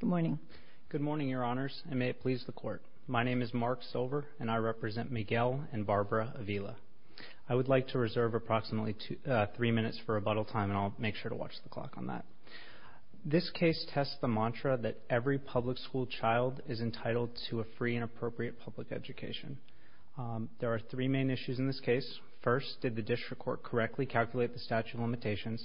Good morning. Good morning your honors and may it please the court. My name is Mark Silver and I represent Miguel and Barbara Avila. I would like to reserve approximately three minutes for rebuttal time and I'll make sure to watch the clock on that. This case tests the mantra that every public school child is entitled to a free and appropriate public education. There are three main issues in this case. First, did the district court correctly calculate the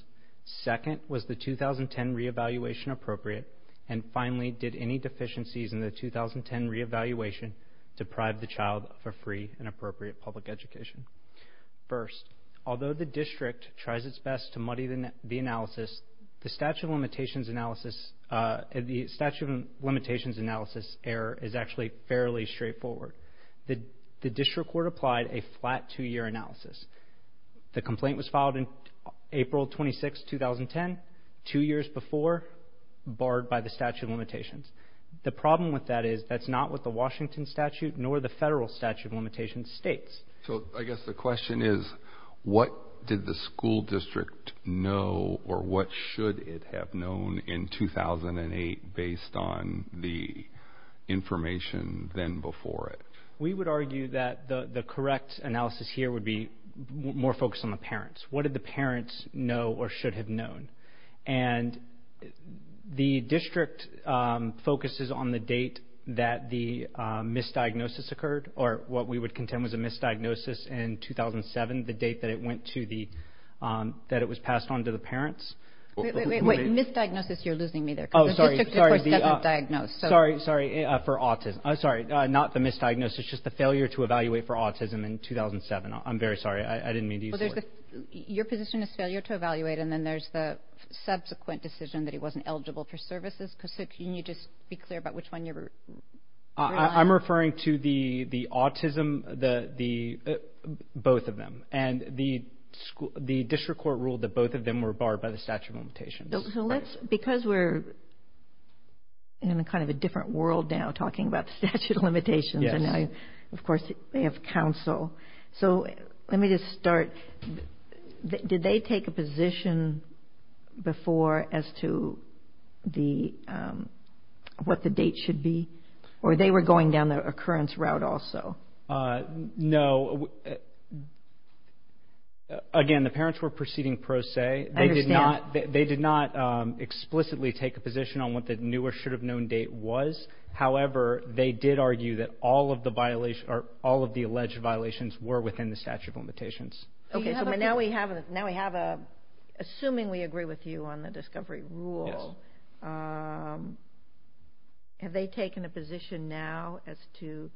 and finally did any deficiencies in the 2010 re-evaluation deprive the child of a free and appropriate public education. First, although the district tries its best to muddy the analysis, the statute of limitations analysis error is actually fairly straightforward. The district court applied a flat two year analysis. The complaint was filed in April 26, 2010, two years before barred by the statute of limitations. The problem with that is that's not what the Washington statute nor the federal statute of limitations states. So I guess the question is what did the school district know or what should it have known in 2008 based on the information then before it? We would argue that the correct analysis here would be more focused on the parents. What did the parents know or should have known? And the district focuses on the date that the misdiagnosis occurred or what we would contend was a misdiagnosis in 2007, the date that it went to the, that it was passed on to the parents. Wait, wait, wait. Misdiagnosis, you're losing me there because the district court doesn't diagnose. Sorry, sorry, for autism. Sorry, not the misdiagnosis, just the failure to evaluate for autism in 2007. I'm very sorry. I didn't mean to use the word. Your position is failure to evaluate and then there's the subsequent decision that he wasn't eligible for services. So can you just be clear about which one you're referring to? I'm referring to the autism, both of them. And the district court ruled that both of them were barred by the statute of limitations. So let's, because we're in a kind of a different world now talking about statute of limitations, and of course they have counsel. So let me just start. Did they take a position before as to the, what the date should be? Or they were going down the occurrence route also? No. Again, the parents were proceeding pro se. I understand. They did not explicitly take a position on what the new or should have known date was. However, they did argue that all of the violation, or all of the alleged violations were within the statute of limitations. Okay, so now we have, now we have a, assuming we agree with you on the discovery rule, have they taken a position now as to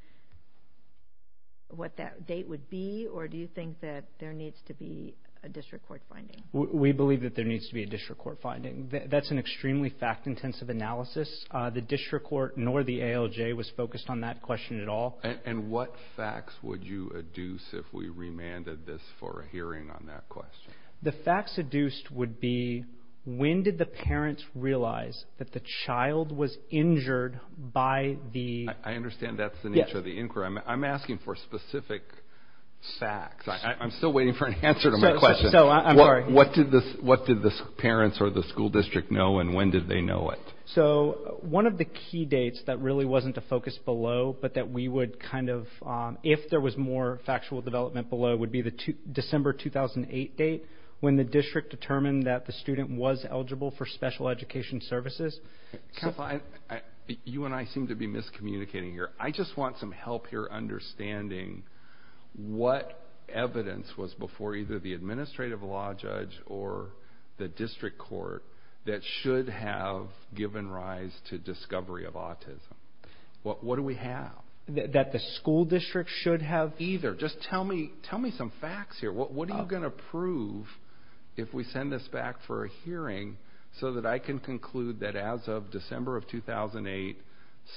what that date would be? Or do you think that there needs to be a district court finding? We believe that there needs to be a district court finding. That's an extremely fact-intensive analysis. The district court nor the ALJ was focused on that question at all. And what facts would you adduce if we remanded this for a hearing on that question? The facts adduced would be, when did the parents realize that the child was injured by the... I understand that's the nature of the inquiry. I'm asking for specific facts. I'm still waiting for an answer to my question. So, I'm sorry. What did the, parents or the school district know and when did they know it? So, one of the key dates that really wasn't a focus below, but that we would kind of, if there was more factual development below, would be the December 2008 date when the district determined that the student was eligible for special education services. You and I seem to be miscommunicating here. I just want some help here understanding what evidence was before either the district court that should have given rise to discovery of autism. What do we have? That the school district should have? Either. Just tell me some facts here. What are you gonna prove if we send this back for a hearing so that I can conclude that as of December of 2008,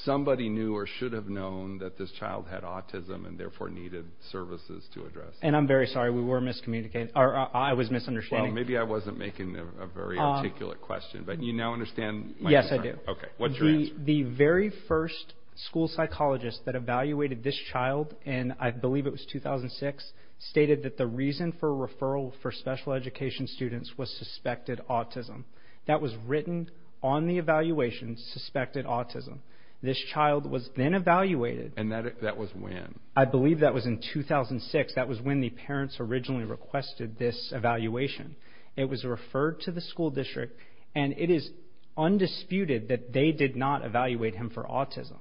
somebody knew or should have known that this child had autism and therefore needed services to address it? And I'm very sorry, we were miscommunicating. I was asking a very articulate question, but you now understand? Yes, I do. Okay. What's your answer? The very first school psychologist that evaluated this child in, I believe it was 2006, stated that the reason for referral for special education students was suspected autism. That was written on the evaluation, suspected autism. This child was then evaluated. And that was when? I believe that was in 2006. That was when the parents originally requested this evaluation. It was referred to the school district, and it is undisputed that they did not evaluate him for autism.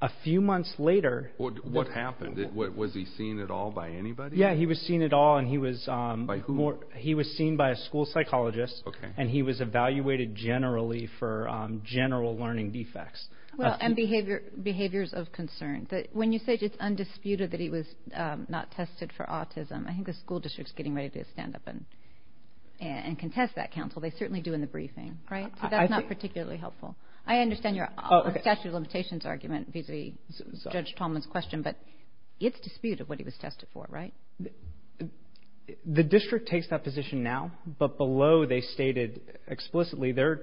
A few months later... What happened? Was he seen at all by anybody? Yeah, he was seen at all, and he was... By who? He was seen by a school psychologist, and he was evaluated generally for general learning defects. Well, and behaviors of concern. When you say it's undisputed that he was not tested for autism, I think the school district's getting ready to stand up and contest that counsel. They certainly do in the briefing, right? So that's not particularly helpful. I understand your statute of limitations argument vis-a-vis Judge Tallman's question, but it's disputed what he was tested for, right? The district takes that position now, but below they stated explicitly their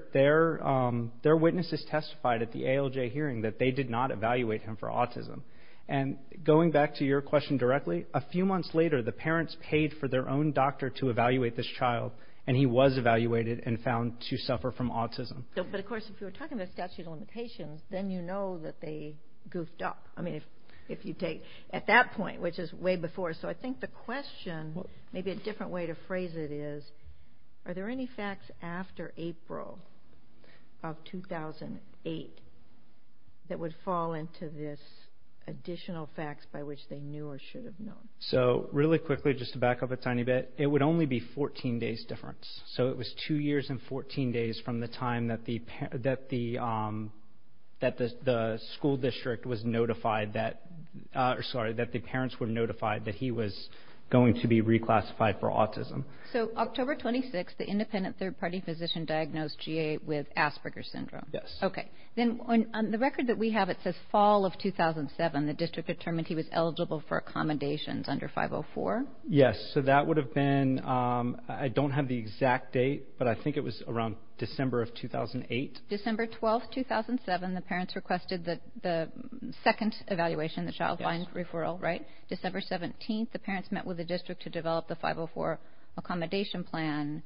witnesses testified at the ALJ hearing that they did not evaluate him for autism. And going back to your question directly, a few months later the parents paid for their own doctor to evaluate this child, and he was evaluated and found to suffer from autism. But of course, if you're talking about statute of limitations, then you know that they goofed up. I mean, if you take... At that point, which is way before... So I think the question, maybe a different way to phrase it is, are there any facts after April of 2008 that would fall into this additional facts by which they knew or should have known? So really quickly, just to back up a tiny bit, it would only be 14 days difference. So it was two years and 14 days from the time that the school district was notified that... Sorry, that the parents were notified that he was going to be reclassified for autism. So October 26th, the independent third party physician diagnosed GA with Asperger's syndrome. Yes. Okay. Then on the record that we have, it says fall of 2007, the district determined he was eligible for accommodations under 504. Yes. So that would have been... I don't have the exact date, but I think it was around December of 2008. December 12th, 2007, the parents requested the second evaluation, the child find referral, right? December 17th, the parents met with the district to develop the 504 accommodation plan.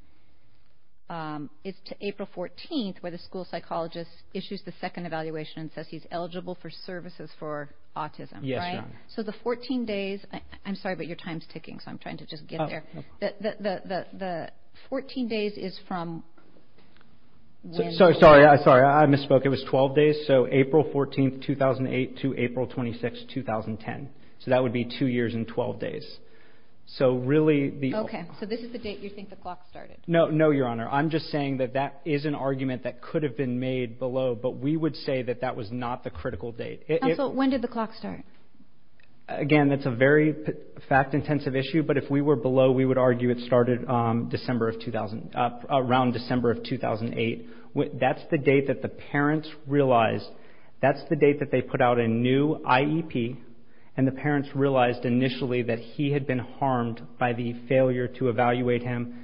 It's to April 14th, where the school psychologist issues the second evaluation and says he's eligible for services for autism, right? Yes. So the 14 days... I'm sorry, but your time's ticking, so I'm trying to just get there. The 14 days is from... Sorry, I misspoke. It was 12 days. So April 14th, 2008 to April 26th, 2010. So that would be two years and 12 days. So really the... Okay. So this is the date you think the clock started? No, Your Honor. I'm just saying that is an argument that could have been made below, but we would say that that was not the critical date. Counsel, when did the clock start? Again, that's a very fact intensive issue, but if we were below, we would argue it started around December of 2008. That's the date that the parents realized... That's the date that they put out a new IEP, and the parents realized initially that he had been harmed by the failure to evaluate him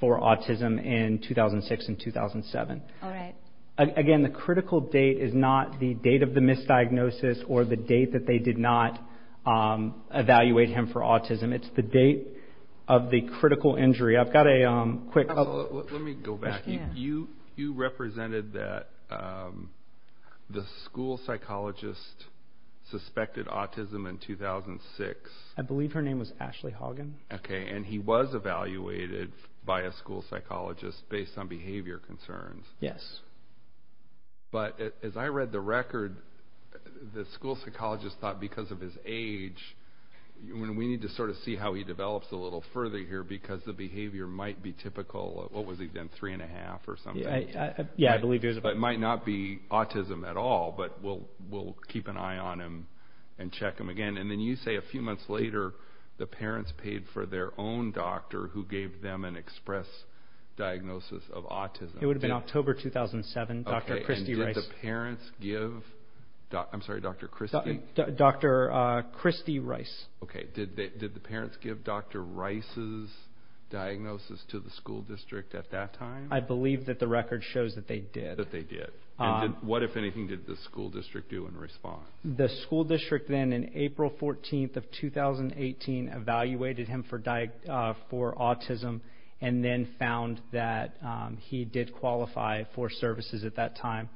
for autism in 2006 and 2007. Alright. Again, the critical date is not the date of the misdiagnosis or the date that they did not evaluate him for autism. It's the date of the critical injury. I've got a quick... Let me go back. You represented that the school psychologist suspected autism in 2006. I believe her name was evaluated by a school psychologist based on behavior concerns. Yes. But as I read the record, the school psychologist thought because of his age... We need to sort of see how he develops a little further here because the behavior might be typical. What was he then? Three and a half or something? Yeah, I believe he was about... It might not be autism at all, but we'll keep an eye on him and check him again. And then you say a few months later, the parents paid for their own doctor who gave them an express diagnosis of autism. It would have been October 2007, Dr. Christy Rice. Okay, and did the parents give... I'm sorry, Dr. Christy? Dr. Christy Rice. Okay, did the parents give Dr. Rice's diagnosis to the school district at that time? I believe that the record shows that they did. That they did. What, if anything, did the school on April 14th of 2018 evaluated him for autism and then found that he did qualify for services at that time.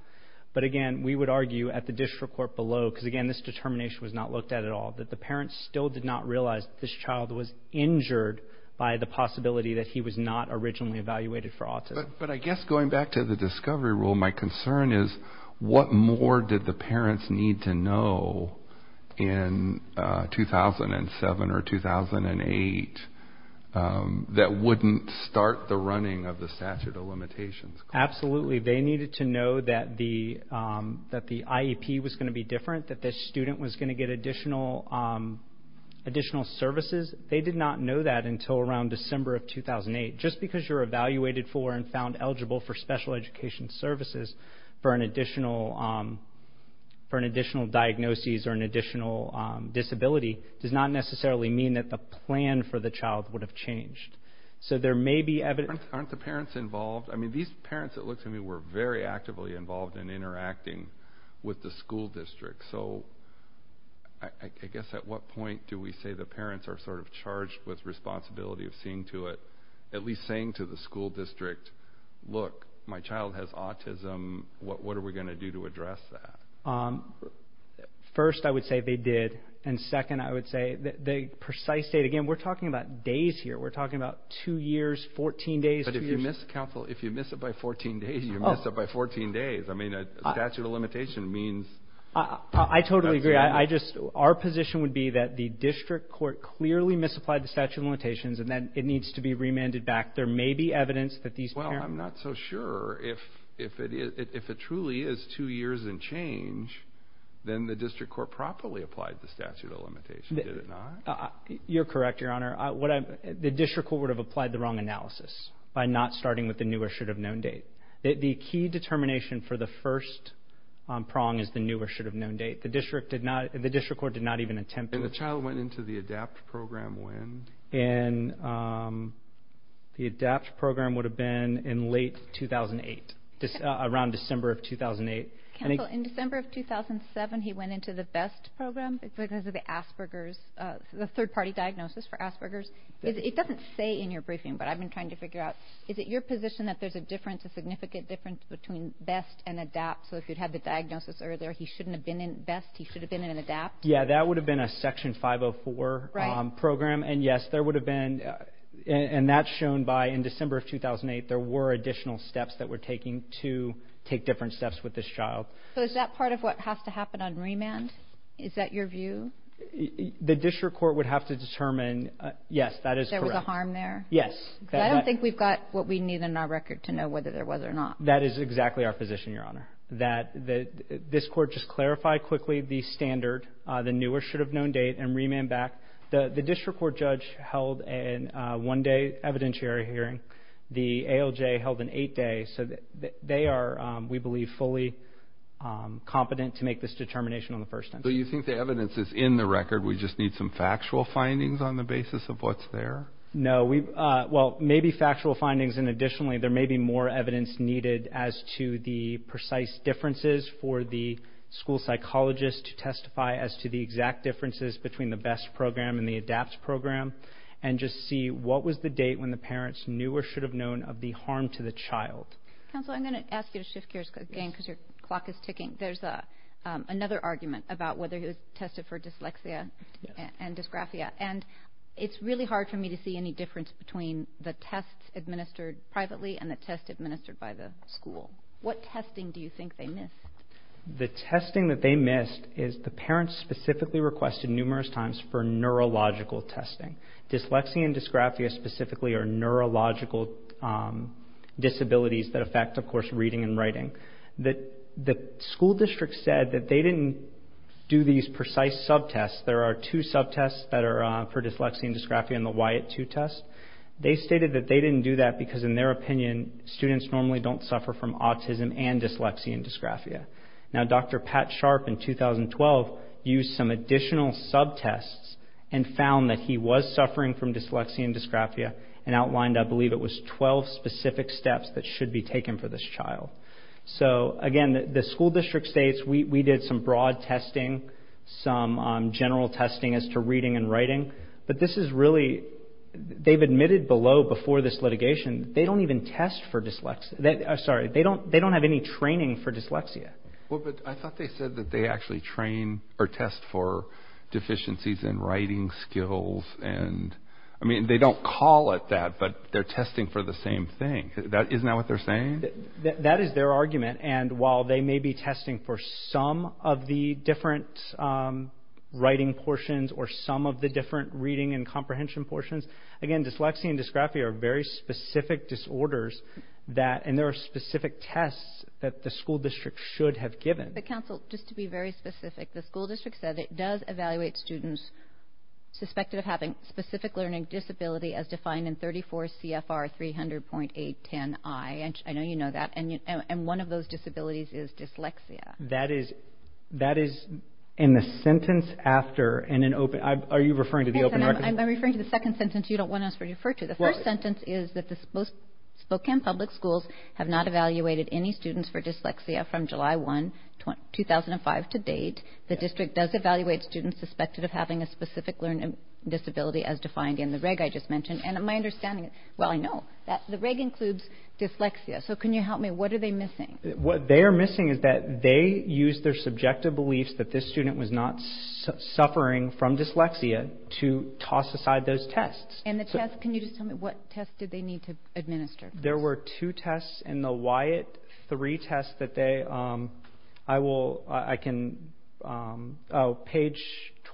But again, we would argue at the district court below, because again, this determination was not looked at at all, that the parents still did not realize that this child was injured by the possibility that he was not originally evaluated for autism. But I guess going back to the discovery rule, my concern is what more did the parents need to know in 2007 or 2008 that wouldn't start the running of the statute of limitations? Absolutely. They needed to know that the IEP was going to be different, that the student was going to get additional services. They did not know that until around December of 2008. Just because you're evaluated for and found eligible for special education services for an additional diagnosis or an additional disability does not necessarily mean that the plan for the child would have changed. So there may be evidence... Aren't the parents involved? These parents, it looks to me, were very actively involved in interacting with the school district. So I guess at what point do we say the parents are sort of charged with responsibility of seeing to it, at least saying to the school district, look, my child has autism. What are we going to do to address that? First, I would say they did. And second, I would say the precise date. Again, we're talking about days here. We're talking about two years, 14 days. But if you miss counsel, if you miss it by 14 days, you miss it by 14 days. I mean, a statute of limitation means... I totally agree. I just, our position would be that the district court clearly misapplied the statute of limitations and that it needs to be remanded back. There may be evidence that these parents... Well, I'm not so sure if it truly is two years and change, then the district court properly applied the statute of limitation, did it not? You're correct, Your Honor. The district court would have applied the wrong analysis by not starting with the new or should have known date. The key determination for the first prong is the new or should have known date. The district did not, the district court did not even attempt to... And the child went into the ADAPT program when? In... The ADAPT program would have been in late 2008, around December of 2008. Counsel, in December of 2007, he went into the BEST program because of the Asperger's, the third-party diagnosis for Asperger's. It doesn't say in your briefing, but I've been trying to figure out, is it your position that there's a difference, a significant difference between BEST and ADAPT? So if you'd had the diagnosis earlier, he shouldn't have been in BEST, he should have been in ADAPT? Yeah, that would have been a Section 504 program, and yes, there would have been... And that's shown by, in December of 2008, there were additional steps that were taken to take different steps with this child. So is that part of what has to happen on remand? Is that your view? The district court would have to determine... Yes, that is correct. There was a harm there? Yes. I don't think we've got what we need in our record to know whether there was or not. That is exactly our position, Your Honor. That this court just clarified quickly the standard, the newer should-have-known date, and remand back. The district court judge held a one-day evidentiary hearing. The ALJ held an eight-day. So they are, we believe, fully competent to make this determination on the first instance. So you think the evidence is in the record, we just need some factual findings on the basis of what's there? No, we... Well, maybe factual findings, and additionally, there may be more evidence needed as to the precise differences for the school psychologist to testify as to the exact differences between the BEST program and the ADAPTS program, and just see what was the date when the parents knew or should-have-known of the harm to the child. Counsel, I'm going to ask you to shift gears again because your clock is ticking. There's another argument about whether he was tested for dyslexia and dysgraphia, and it's really hard for me to see any difference between the tests administered privately and the tests administered by the school. What testing do The testing that they missed is the parents specifically requested numerous times for neurological testing. Dyslexia and dysgraphia specifically are neurological disabilities that affect, of course, reading and writing. The school district said that they didn't do these precise sub-tests. There are two sub-tests that are for dyslexia and dysgraphia in the WIAT-II test. They stated that they didn't do that because, in their opinion, students normally don't suffer from autism and dyslexia and dysgraphia. Now, Dr. Pat Sharp in 2012 used some additional sub-tests and found that he was suffering from dyslexia and dysgraphia, and outlined, I believe, it was 12 specific steps that should be taken for this child. So, again, the school district states, we did some broad testing, some general testing as to reading and writing, but this is really, they've admitted below, before this litigation, they don't even test for dyslexia, sorry, they don't have any training for dyslexia. Well, but I thought they said that they actually train or test for deficiencies in writing skills and, I mean, they don't call it that, but they're testing for the same thing. Isn't that what they're saying? That is their argument, and while they may be testing for some of the different writing portions or some of the different reading and comprehension portions, again, dyslexia and dysgraphia are very specific disorders that, and there are specific tests that the school district should have given. But, counsel, just to be very specific, the school district said it does evaluate students suspected of having specific learning disability as defined in 34 CFR 300.810I. I know you know that, and one of those disabilities is dyslexia. That is, that is in the sentence after, in an open, are you referring to the open record? I'm referring to the second sentence you don't want us to refer to. The first sentence is that the Spokane Public Schools have not evaluated any students for dyslexia from July 1, 2005 to date. The district does evaluate students suspected of having a specific learning disability as defined in the reg I just mentioned, and my understanding is, well, I know, the reg includes dyslexia, so can you help me, what are they missing? What they are missing is that they used their subjective beliefs that this student was not suffering from dyslexia to toss aside those tests. And the tests, can you just tell me, what tests did they need to administer? There were two tests in the Wyatt, three tests that they, I will, I can, oh, page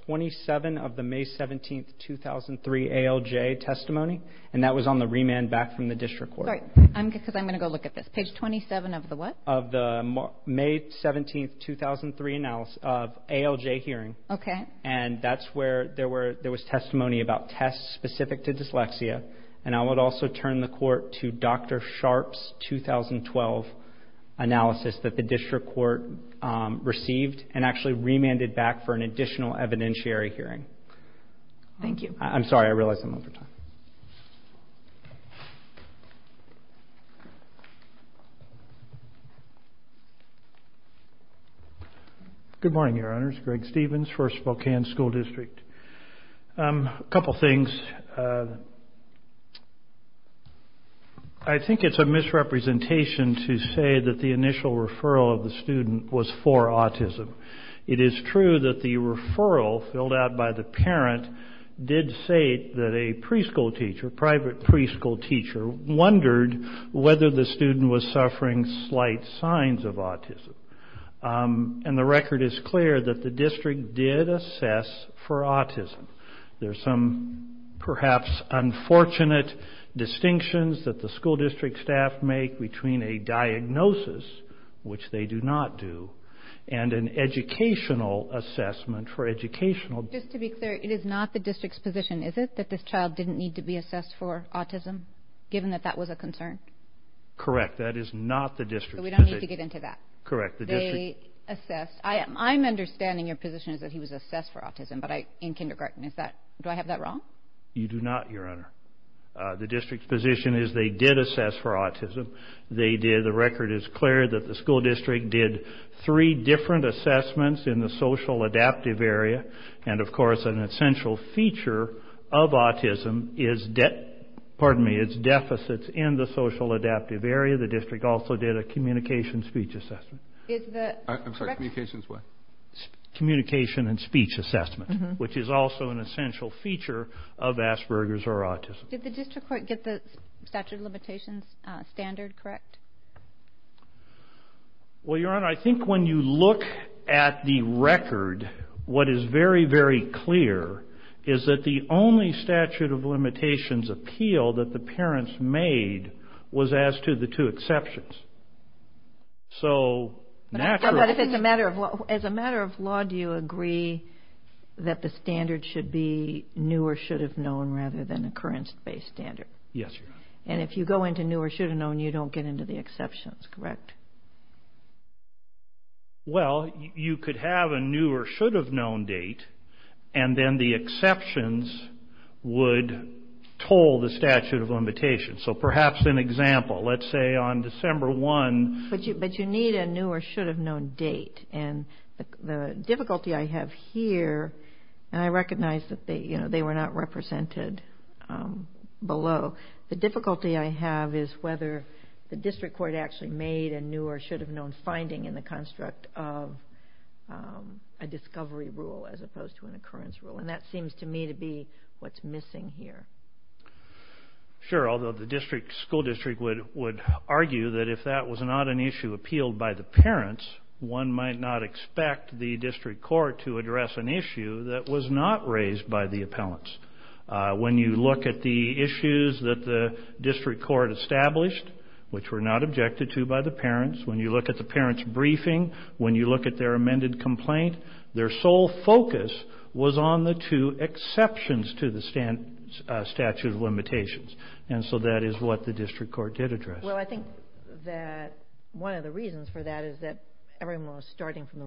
27 of the May 17, 2003 ALJ testimony, and that was on the remand back from the district court. I'm going to go look at this. Page 27 of the what? Of the May 17, 2003 ALJ hearing. Okay. And that's where there was testimony about tests specific to dyslexia, and I would also turn the court to Dr. Sharpe's 2012 analysis that the district court received and actually remanded back for an additional evidentiary hearing. Thank you. I'm sorry, I realize I'm over time. Okay. Good morning, Your Honors. Greg Stevens, First Spokane School District. A couple things. I think it's a misrepresentation to say that the initial referral of the student was for autism. It is true that the referral filled out by the parent did say that a preschool teacher, private preschool teacher, wondered whether the student was suffering slight signs of autism. And the record is clear that the district did assess for autism. There's some perhaps unfortunate distinctions that the school district staff make between a diagnosis, which they do not do, and an educational assessment for educational. Just to be clear, it is not the district's position, is it, that this child didn't need to be assessed for autism, given that that was a concern? Correct. That is not the district's position. So we don't need to get into that? Correct. They assessed. I'm understanding your position is that he was assessed for autism in kindergarten. Is that, do I have that wrong? You do not, Your Honor. The district's position is they did assess for autism. They did. The record is clear that the school district did three different assessments in the social adaptive area. And, of course, an essential feature of autism is, pardon me, is deficits in the social adaptive area. The district also did a communication speech assessment. Is the, I'm sorry, communications what? Communication and speech assessment, which is also an essential feature of Asperger's or autism. Did the district get the statute of limitations standard correct? Well, Your Honor, I think when you look at the record, what is very, very clear is that the only statute of limitations appeal that the parents made was as to the two exceptions. So naturally. But if it's a matter of law, as a matter of law, do you agree that the standard should be new or should have known rather than occurrence-based standard? Yes, Your Honor. And if you go into new or should have known, you don't get into the exceptions, correct? Well, you could have a new or should have known date, and then the exceptions would toll the statute of limitations. So perhaps an example, let's say on December 1. But you need a new or should have known date. And the difficulty I have here, and I recognize that they, you know, they were not represented below. The difficulty I have is whether the district court actually made a new or should have known finding in the construct of a discovery rule as opposed to an occurrence rule. And that seems to me to be what's missing here. Sure. Although the district school district would argue that if that was not an issue appealed by the parents, one might not expect the district court to address an issue that was not raised by the appellants. When you look at the issues that the district court established, which were not objected to by the parents, when you look at the parents' briefing, when you look at their amended complaint, their sole focus was on the two exceptions to the statute of limitations. And so that is what the district court did address. Well, I think that one of the reasons for that is that everyone was starting from the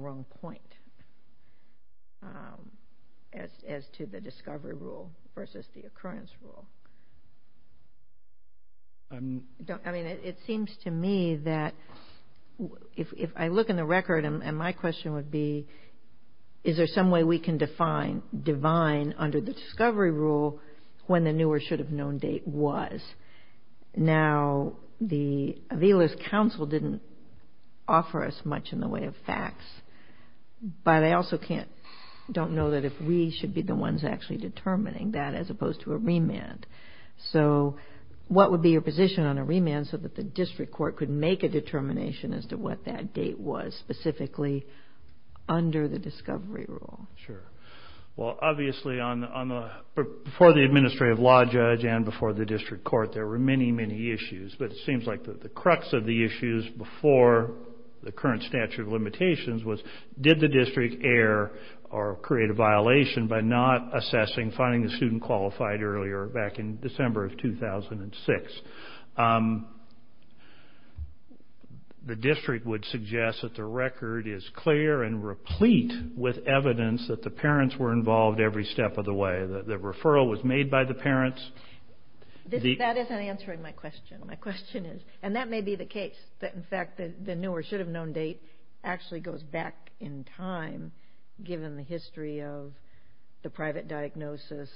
discovery rule versus the occurrence rule. I mean, it seems to me that if I look in the record, and my question would be, is there some way we can define divine under the discovery rule when the new or should have known date was? Now, the Avila's counsel didn't offer us much in the way of facts. But I also don't know that if we should be the ones actually determining that as opposed to a remand. So what would be your position on a remand so that the district court could make a determination as to what that date was specifically under the discovery rule? Sure. Well, obviously, before the administrative law judge and before the district court, there were many, many issues. But it seems like the crux of the issues before the current statute of limitations was, did the district err or create a violation by not assessing, finding the student qualified earlier back in December of 2006? The district would suggest that the record is clear and replete with evidence that the parents were involved every step of the way. The referral was made by the parents. That isn't answering my question. And that may be the case, that, in fact, the new or should have known date actually goes back in time, given the history of the private diagnosis,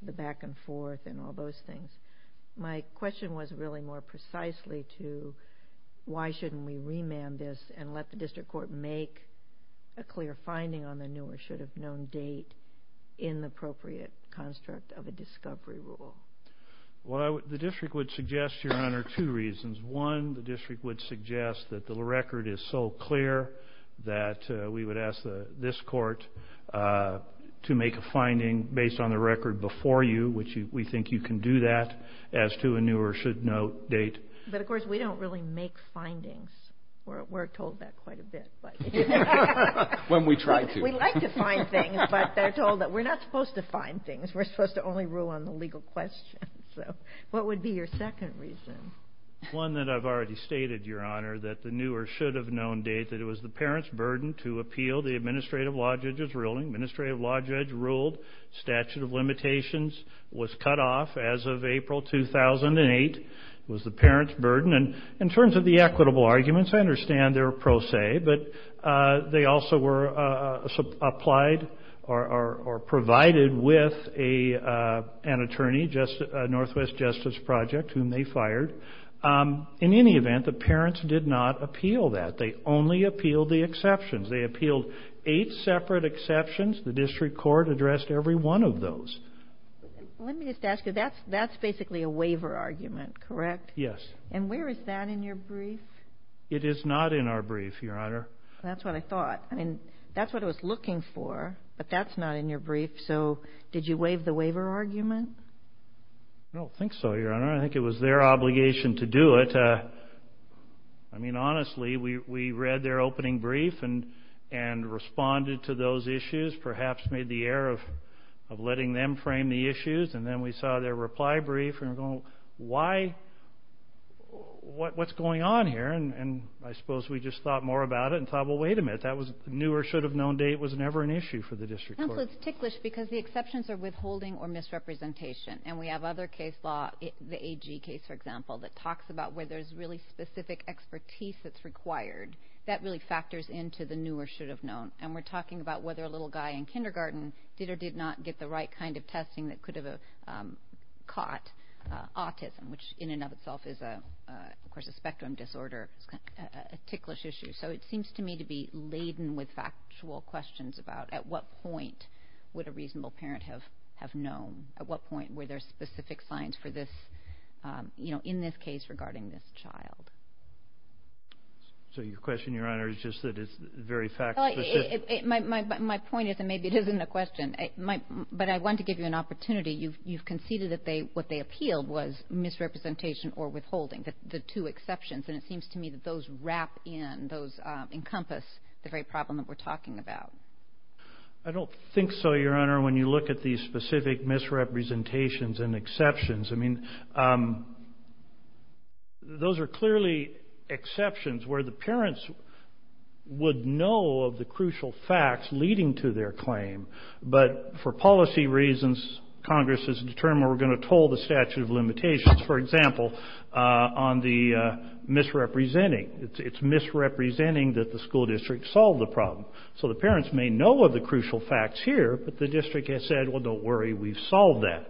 the back and forth, and all those things. My question was really more precisely to why shouldn't we remand this and let the district court make a clear finding on the new or should have known date in the appropriate construct of a discovery rule? Well, the district would suggest, Your Honor, two reasons. One, the district would suggest that the record is so clear that we would ask this court to make a finding based on the record before you, which we think you can do that, as to a new or should know date. But, of course, we don't really make findings. We're told that quite a bit. When we try to. We like to find things, but they're told that we're not supposed to find things. We're supposed to only rule on the legal question. So what would be your second reason? One that I've already stated, Your Honor, that the new or should have known date, that it was the parent's burden to appeal the administrative law judge's ruling. Administrative law judge ruled statute of limitations was cut off as of April 2008. It was the parent's burden. And in terms of the equitable arguments, I understand they're a pro se, but they also were applied or provided with an attorney, Northwest Justice Project, whom they fired. In any event, the parents did not appeal that. They only appealed the exceptions. They appealed eight separate exceptions. The district court addressed every one of those. Let me just ask you, that's basically a waiver argument, correct? Yes. And where is that in your brief? It is not in our brief, Your Honor. That's what I thought. That's what I was looking for, but that's not in your brief. So did you waive the waiver argument? I don't think so, Your Honor. I think it was their obligation to do it. I mean, honestly, we read their opening brief and responded to those issues, perhaps made the error of letting them frame the issues. And then we saw their reply brief and we're going, why? What's going on here? New or should have known date was never an issue for the district court. Also, it's ticklish because the exceptions are withholding or misrepresentation. And we have other case law, the AG case, for example, that talks about where there's really specific expertise that's required. That really factors into the new or should have known. And we're talking about whether a little guy in kindergarten did or did not get the right kind of testing that could have caught autism, which in and of itself is, of course, a spectrum disorder. It's a ticklish issue. So it seems to me to be laden with factual questions about at what point would a reasonable parent have known? At what point were there specific signs for this, you know, in this case regarding this child? So your question, Your Honor, is just that it's very fact specific? My point is, and maybe it isn't a question, but I want to give you an opportunity. You've conceded that what they appealed was misrepresentation or withholding, the two exceptions. And it seems to me that those wrap in, those encompass the very problem that we're talking about. I don't think so, Your Honor, when you look at these specific misrepresentations and exceptions. I mean, those are clearly exceptions where the parents would know of the crucial facts leading to their claim. But for policy reasons, Congress has determined we're going to toll the statute of limitations, for example, on the misrepresenting. It's misrepresenting that the school district solved the problem. So the parents may know of the crucial facts here, but the district has said, well, don't worry, we've solved that.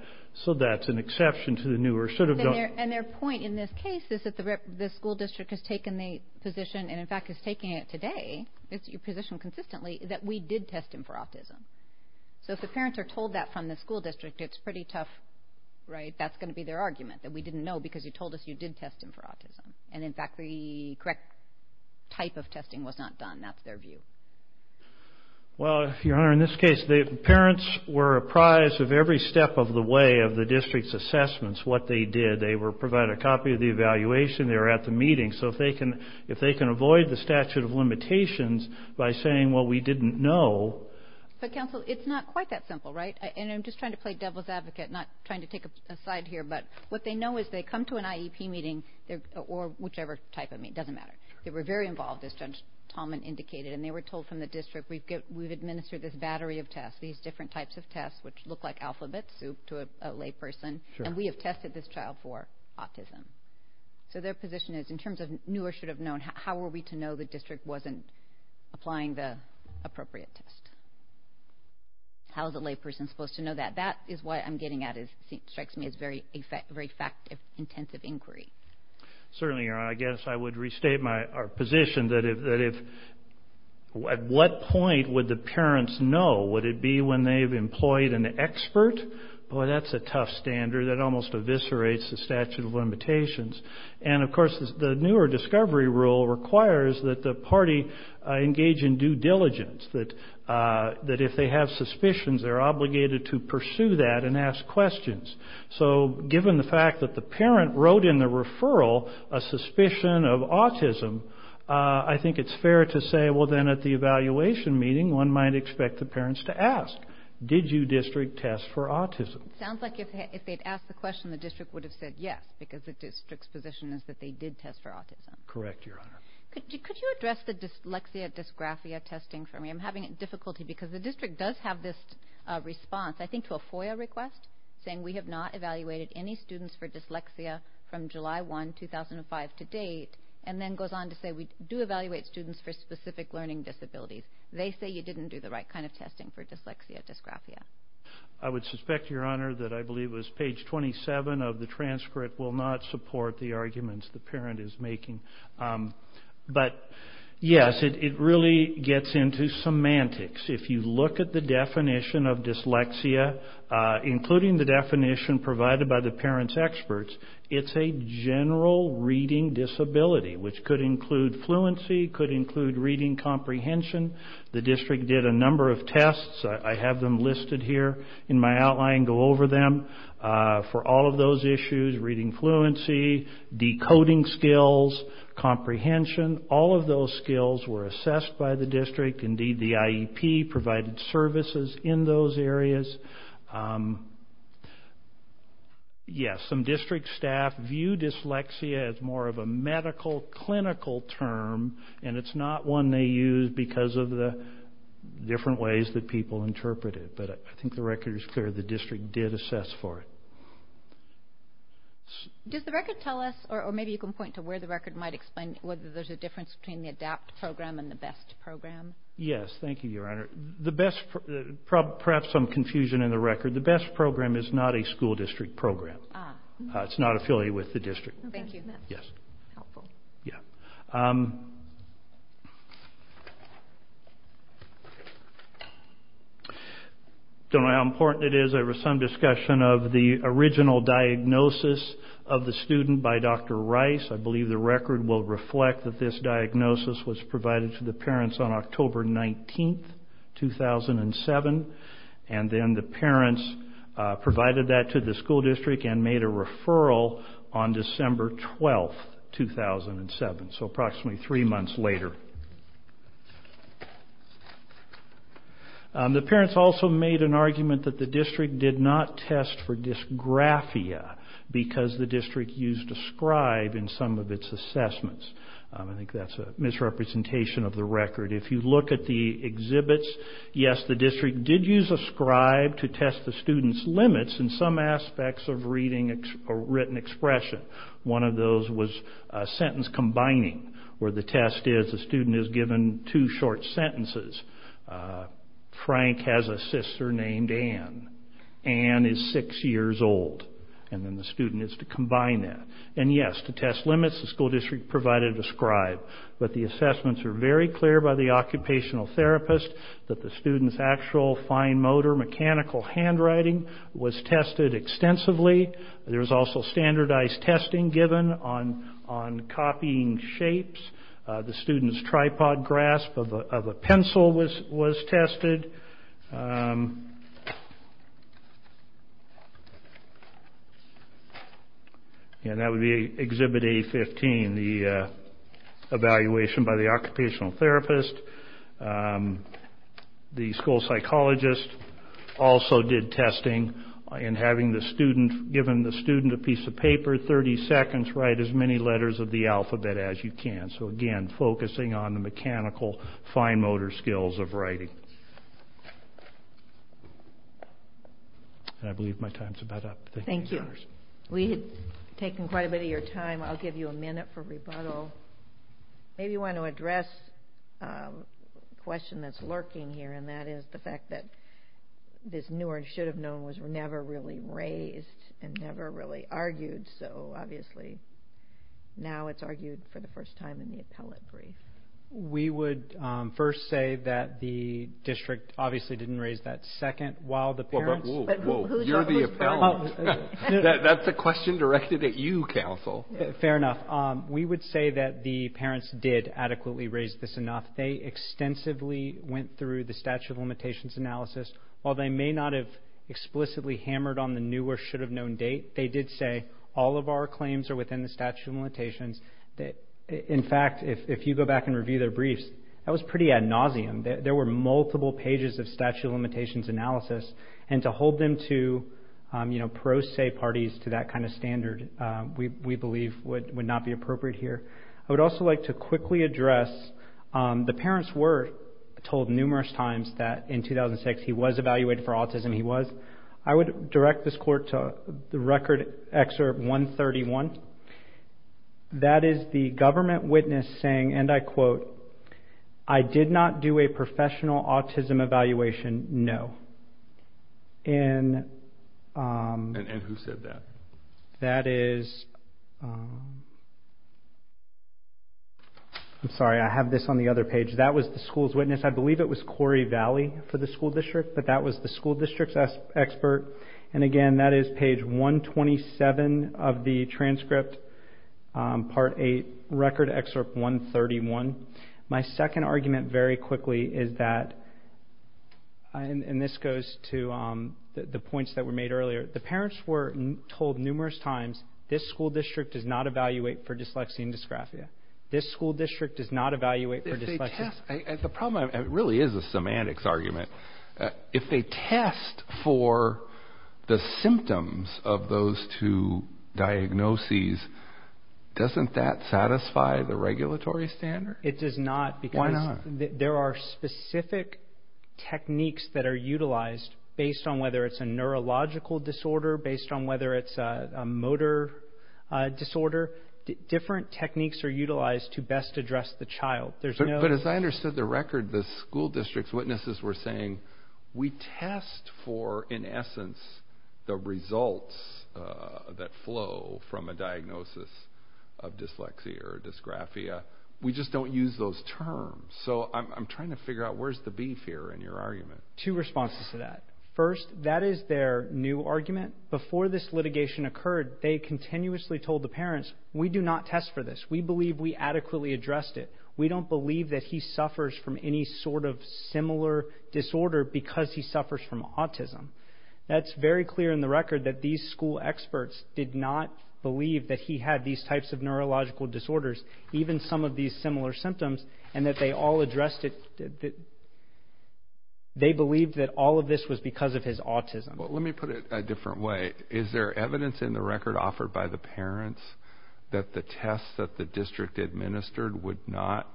So that's an exception to the new or should have done. And their point in this case is that the school district has taken the position, and in fact is taking it today, it's your position consistently, that we did test him for autism. So if the parents are told that from the school district, it's pretty tough, right? We didn't know because you told us you did test him for autism. And in fact, the correct type of testing was not done. That's their view. Well, Your Honor, in this case, the parents were apprised of every step of the way of the district's assessments, what they did. They were provided a copy of the evaluation. They were at the meeting. So if they can avoid the statute of limitations by saying, well, we didn't know. But counsel, it's not quite that simple, right? And I'm just trying to play devil's advocate, not trying to take a side here. But what they know is they come to an IEP meeting, or whichever type of meeting, it doesn't matter. They were very involved, as Judge Tallman indicated. And they were told from the district, we've administered this battery of tests, these different types of tests, which look like alphabets to a layperson. And we have tested this child for autism. So their position is, in terms of new or should have known, how were we to know the district wasn't applying the appropriate test? How is a layperson supposed to know that? That is what I'm getting at. It strikes me as very fact-intensive inquiry. Certainly, Your Honor. I guess I would restate my position that if, at what point would the parents know? Would it be when they've employed an expert? Boy, that's a tough standard. That almost eviscerates the statute of limitations. And of course, the newer discovery rule requires that the party engage in due diligence. That if they have suspicions, they're obligated to pursue that and ask questions. So given the fact that the parent wrote in the referral a suspicion of autism, I think it's fair to say, well, then at the evaluation meeting, one might expect the parents to ask, did you district test for autism? Sounds like if they'd asked the question, the district would have said yes, because the district's position is that they did test for autism. Correct, Your Honor. Could you address the dyslexia dysgraphia testing for me? I'm having difficulty because the district does have this response, I think to a FOIA request, saying we have not evaluated any students for dyslexia from July 1, 2005 to date, and then goes on to say we do evaluate students for specific learning disabilities. They say you didn't do the right kind of testing for dyslexia dysgraphia. I would suspect, Your Honor, that I believe it was page 27 of the transcript will not support the arguments the parent is making. But yes, it really gets into semantics. If you look at the definition of dyslexia, including the definition provided by the parent's experts, it's a general reading disability, which could include fluency, could include reading comprehension. The district did a number of tests. I have them listed here in my outline. Go over them. For all of those issues, reading fluency, decoding skills, comprehension, all of those skills were assessed by the district. Indeed, the IEP provided services in those areas. Yes, some district staff view dyslexia as more of a medical, clinical term, and it's not one they use because of the different ways that people interpret it. I think the record is clear. The district did assess for it. Does the record tell us, or maybe you can point to where the record might explain whether there's a difference between the ADAPT program and the BEST program? Yes. Thank you, Your Honor. Perhaps some confusion in the record. The BEST program is not a school district program. It's not affiliated with the district. Thank you. Yes. Yes. Don't know how important it is. There was some discussion of the original diagnosis of the student by Dr. Rice. I believe the record will reflect that this diagnosis was provided to the parents on October 19, 2007, and then the parents provided that to the school district and made a referral on December 12, 2007, so approximately three months later. The parents also made an argument that the district did not test for dysgraphia because the district used a scribe in some of its assessments. I think that's a misrepresentation of the record. If you look at the exhibits, yes, the district did use a scribe to test the students' limits in some aspects of reading a written expression. One of those was sentence combining, where the test is the student is given two short sentences. Frank has a sister named Anne. Anne is six years old, and then the student is to combine that. And yes, to test limits, the school district provided a scribe, but the assessments are very clear by the occupational therapist that the student's actual fine motor mechanical handwriting was tested extensively. There was also standardized testing given on copying shapes. The student's tripod grasp of a pencil was tested. And that would be Exhibit A-15, the evaluation by the occupational therapist. The school psychologist also did testing in having the student, given the student a piece of paper, 30 seconds, write as many letters of the alphabet as you can. So, again, focusing on the mechanical fine motor skills of writing. I believe my time's about up. Thank you. We've taken quite a bit of your time. I'll give you a minute for rebuttal. Maybe you want to address a question that's lurking here, and that is the fact that this newer and should have known was never really raised and never really argued. So, obviously, now it's argued for the first time in the appellate brief. We would first say that the district obviously didn't raise that second while the parents. Whoa, whoa. You're the appellant. That's a question directed at you, counsel. Fair enough. We would say that the parents did adequately raise this enough. They extensively went through the statute of limitations analysis. While they may not have explicitly hammered on the new or should have known date, they did say all of our claims are within the statute of limitations. In fact, if you go back and review their briefs, that was pretty ad nauseum. There were multiple pages of statute of limitations analysis, and to hold them to pro se parties to that kind of standard, we believe would not be appropriate here. I would also like to quickly address, the parents were told numerous times that in 2006, he was evaluated for autism. He was. I would direct this court to the record excerpt 131. That is the government witness saying, and I quote, I did not do a professional autism evaluation, no. And who said that? That is, I'm sorry, I have this on the other page. That was the school's witness. I believe it was Corey Valley for the school district, but that was the school district's expert. And again, that is page 127 of the transcript, part eight, record excerpt 131. My second argument very quickly is that, and this goes to the points that were made earlier, the parents were told numerous times, this school district does not evaluate for dyslexia and dysgraphia. This school district does not evaluate for dyslexia. The problem, it really is a semantics argument. If they test for the symptoms of those two diagnoses, doesn't that satisfy the regulatory standard? It does not. Because there are specific techniques that are utilized based on whether it's a neurological disorder, based on whether it's a motor disorder, different techniques are utilized to best address the child. There's no. But as I understood the record, the school district's witnesses were saying, we test for, in essence, the results that flow from a diagnosis of dyslexia or dysgraphia. We just don't use those terms. So I'm trying to figure out where's the beef here in your argument. Two responses to that. First, that is their new argument. Before this litigation occurred, they continuously told the parents, we do not test for this. We believe we adequately addressed it. We don't believe that he suffers from any sort of similar disorder because he suffers from autism. That's very clear in the record that these school experts did not believe that he had these types of neurological disorders, even some of these similar symptoms, and that they all addressed it. They believed that all of this was because of his autism. Well, let me put it a different way. Is there evidence in the record offered by the parents that the tests that the district administered would not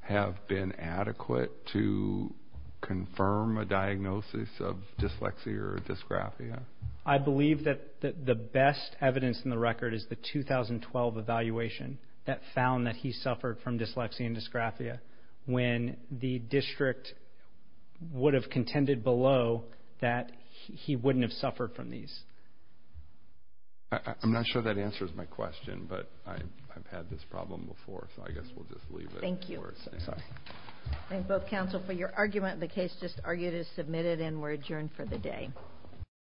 have been adequate to confirm a diagnosis of dyslexia or dysgraphia? I believe that the best evidence in the record is the 2012 evaluation that found that he suffered from dyslexia and dysgraphia, when the district would have contended below that he wouldn't have suffered from these. I'm not sure that answers my question, but I've had this problem before, so I guess we'll just leave it. Thank you. Thank both counsel for your argument. The case just argued is submitted and we're adjourned for the day.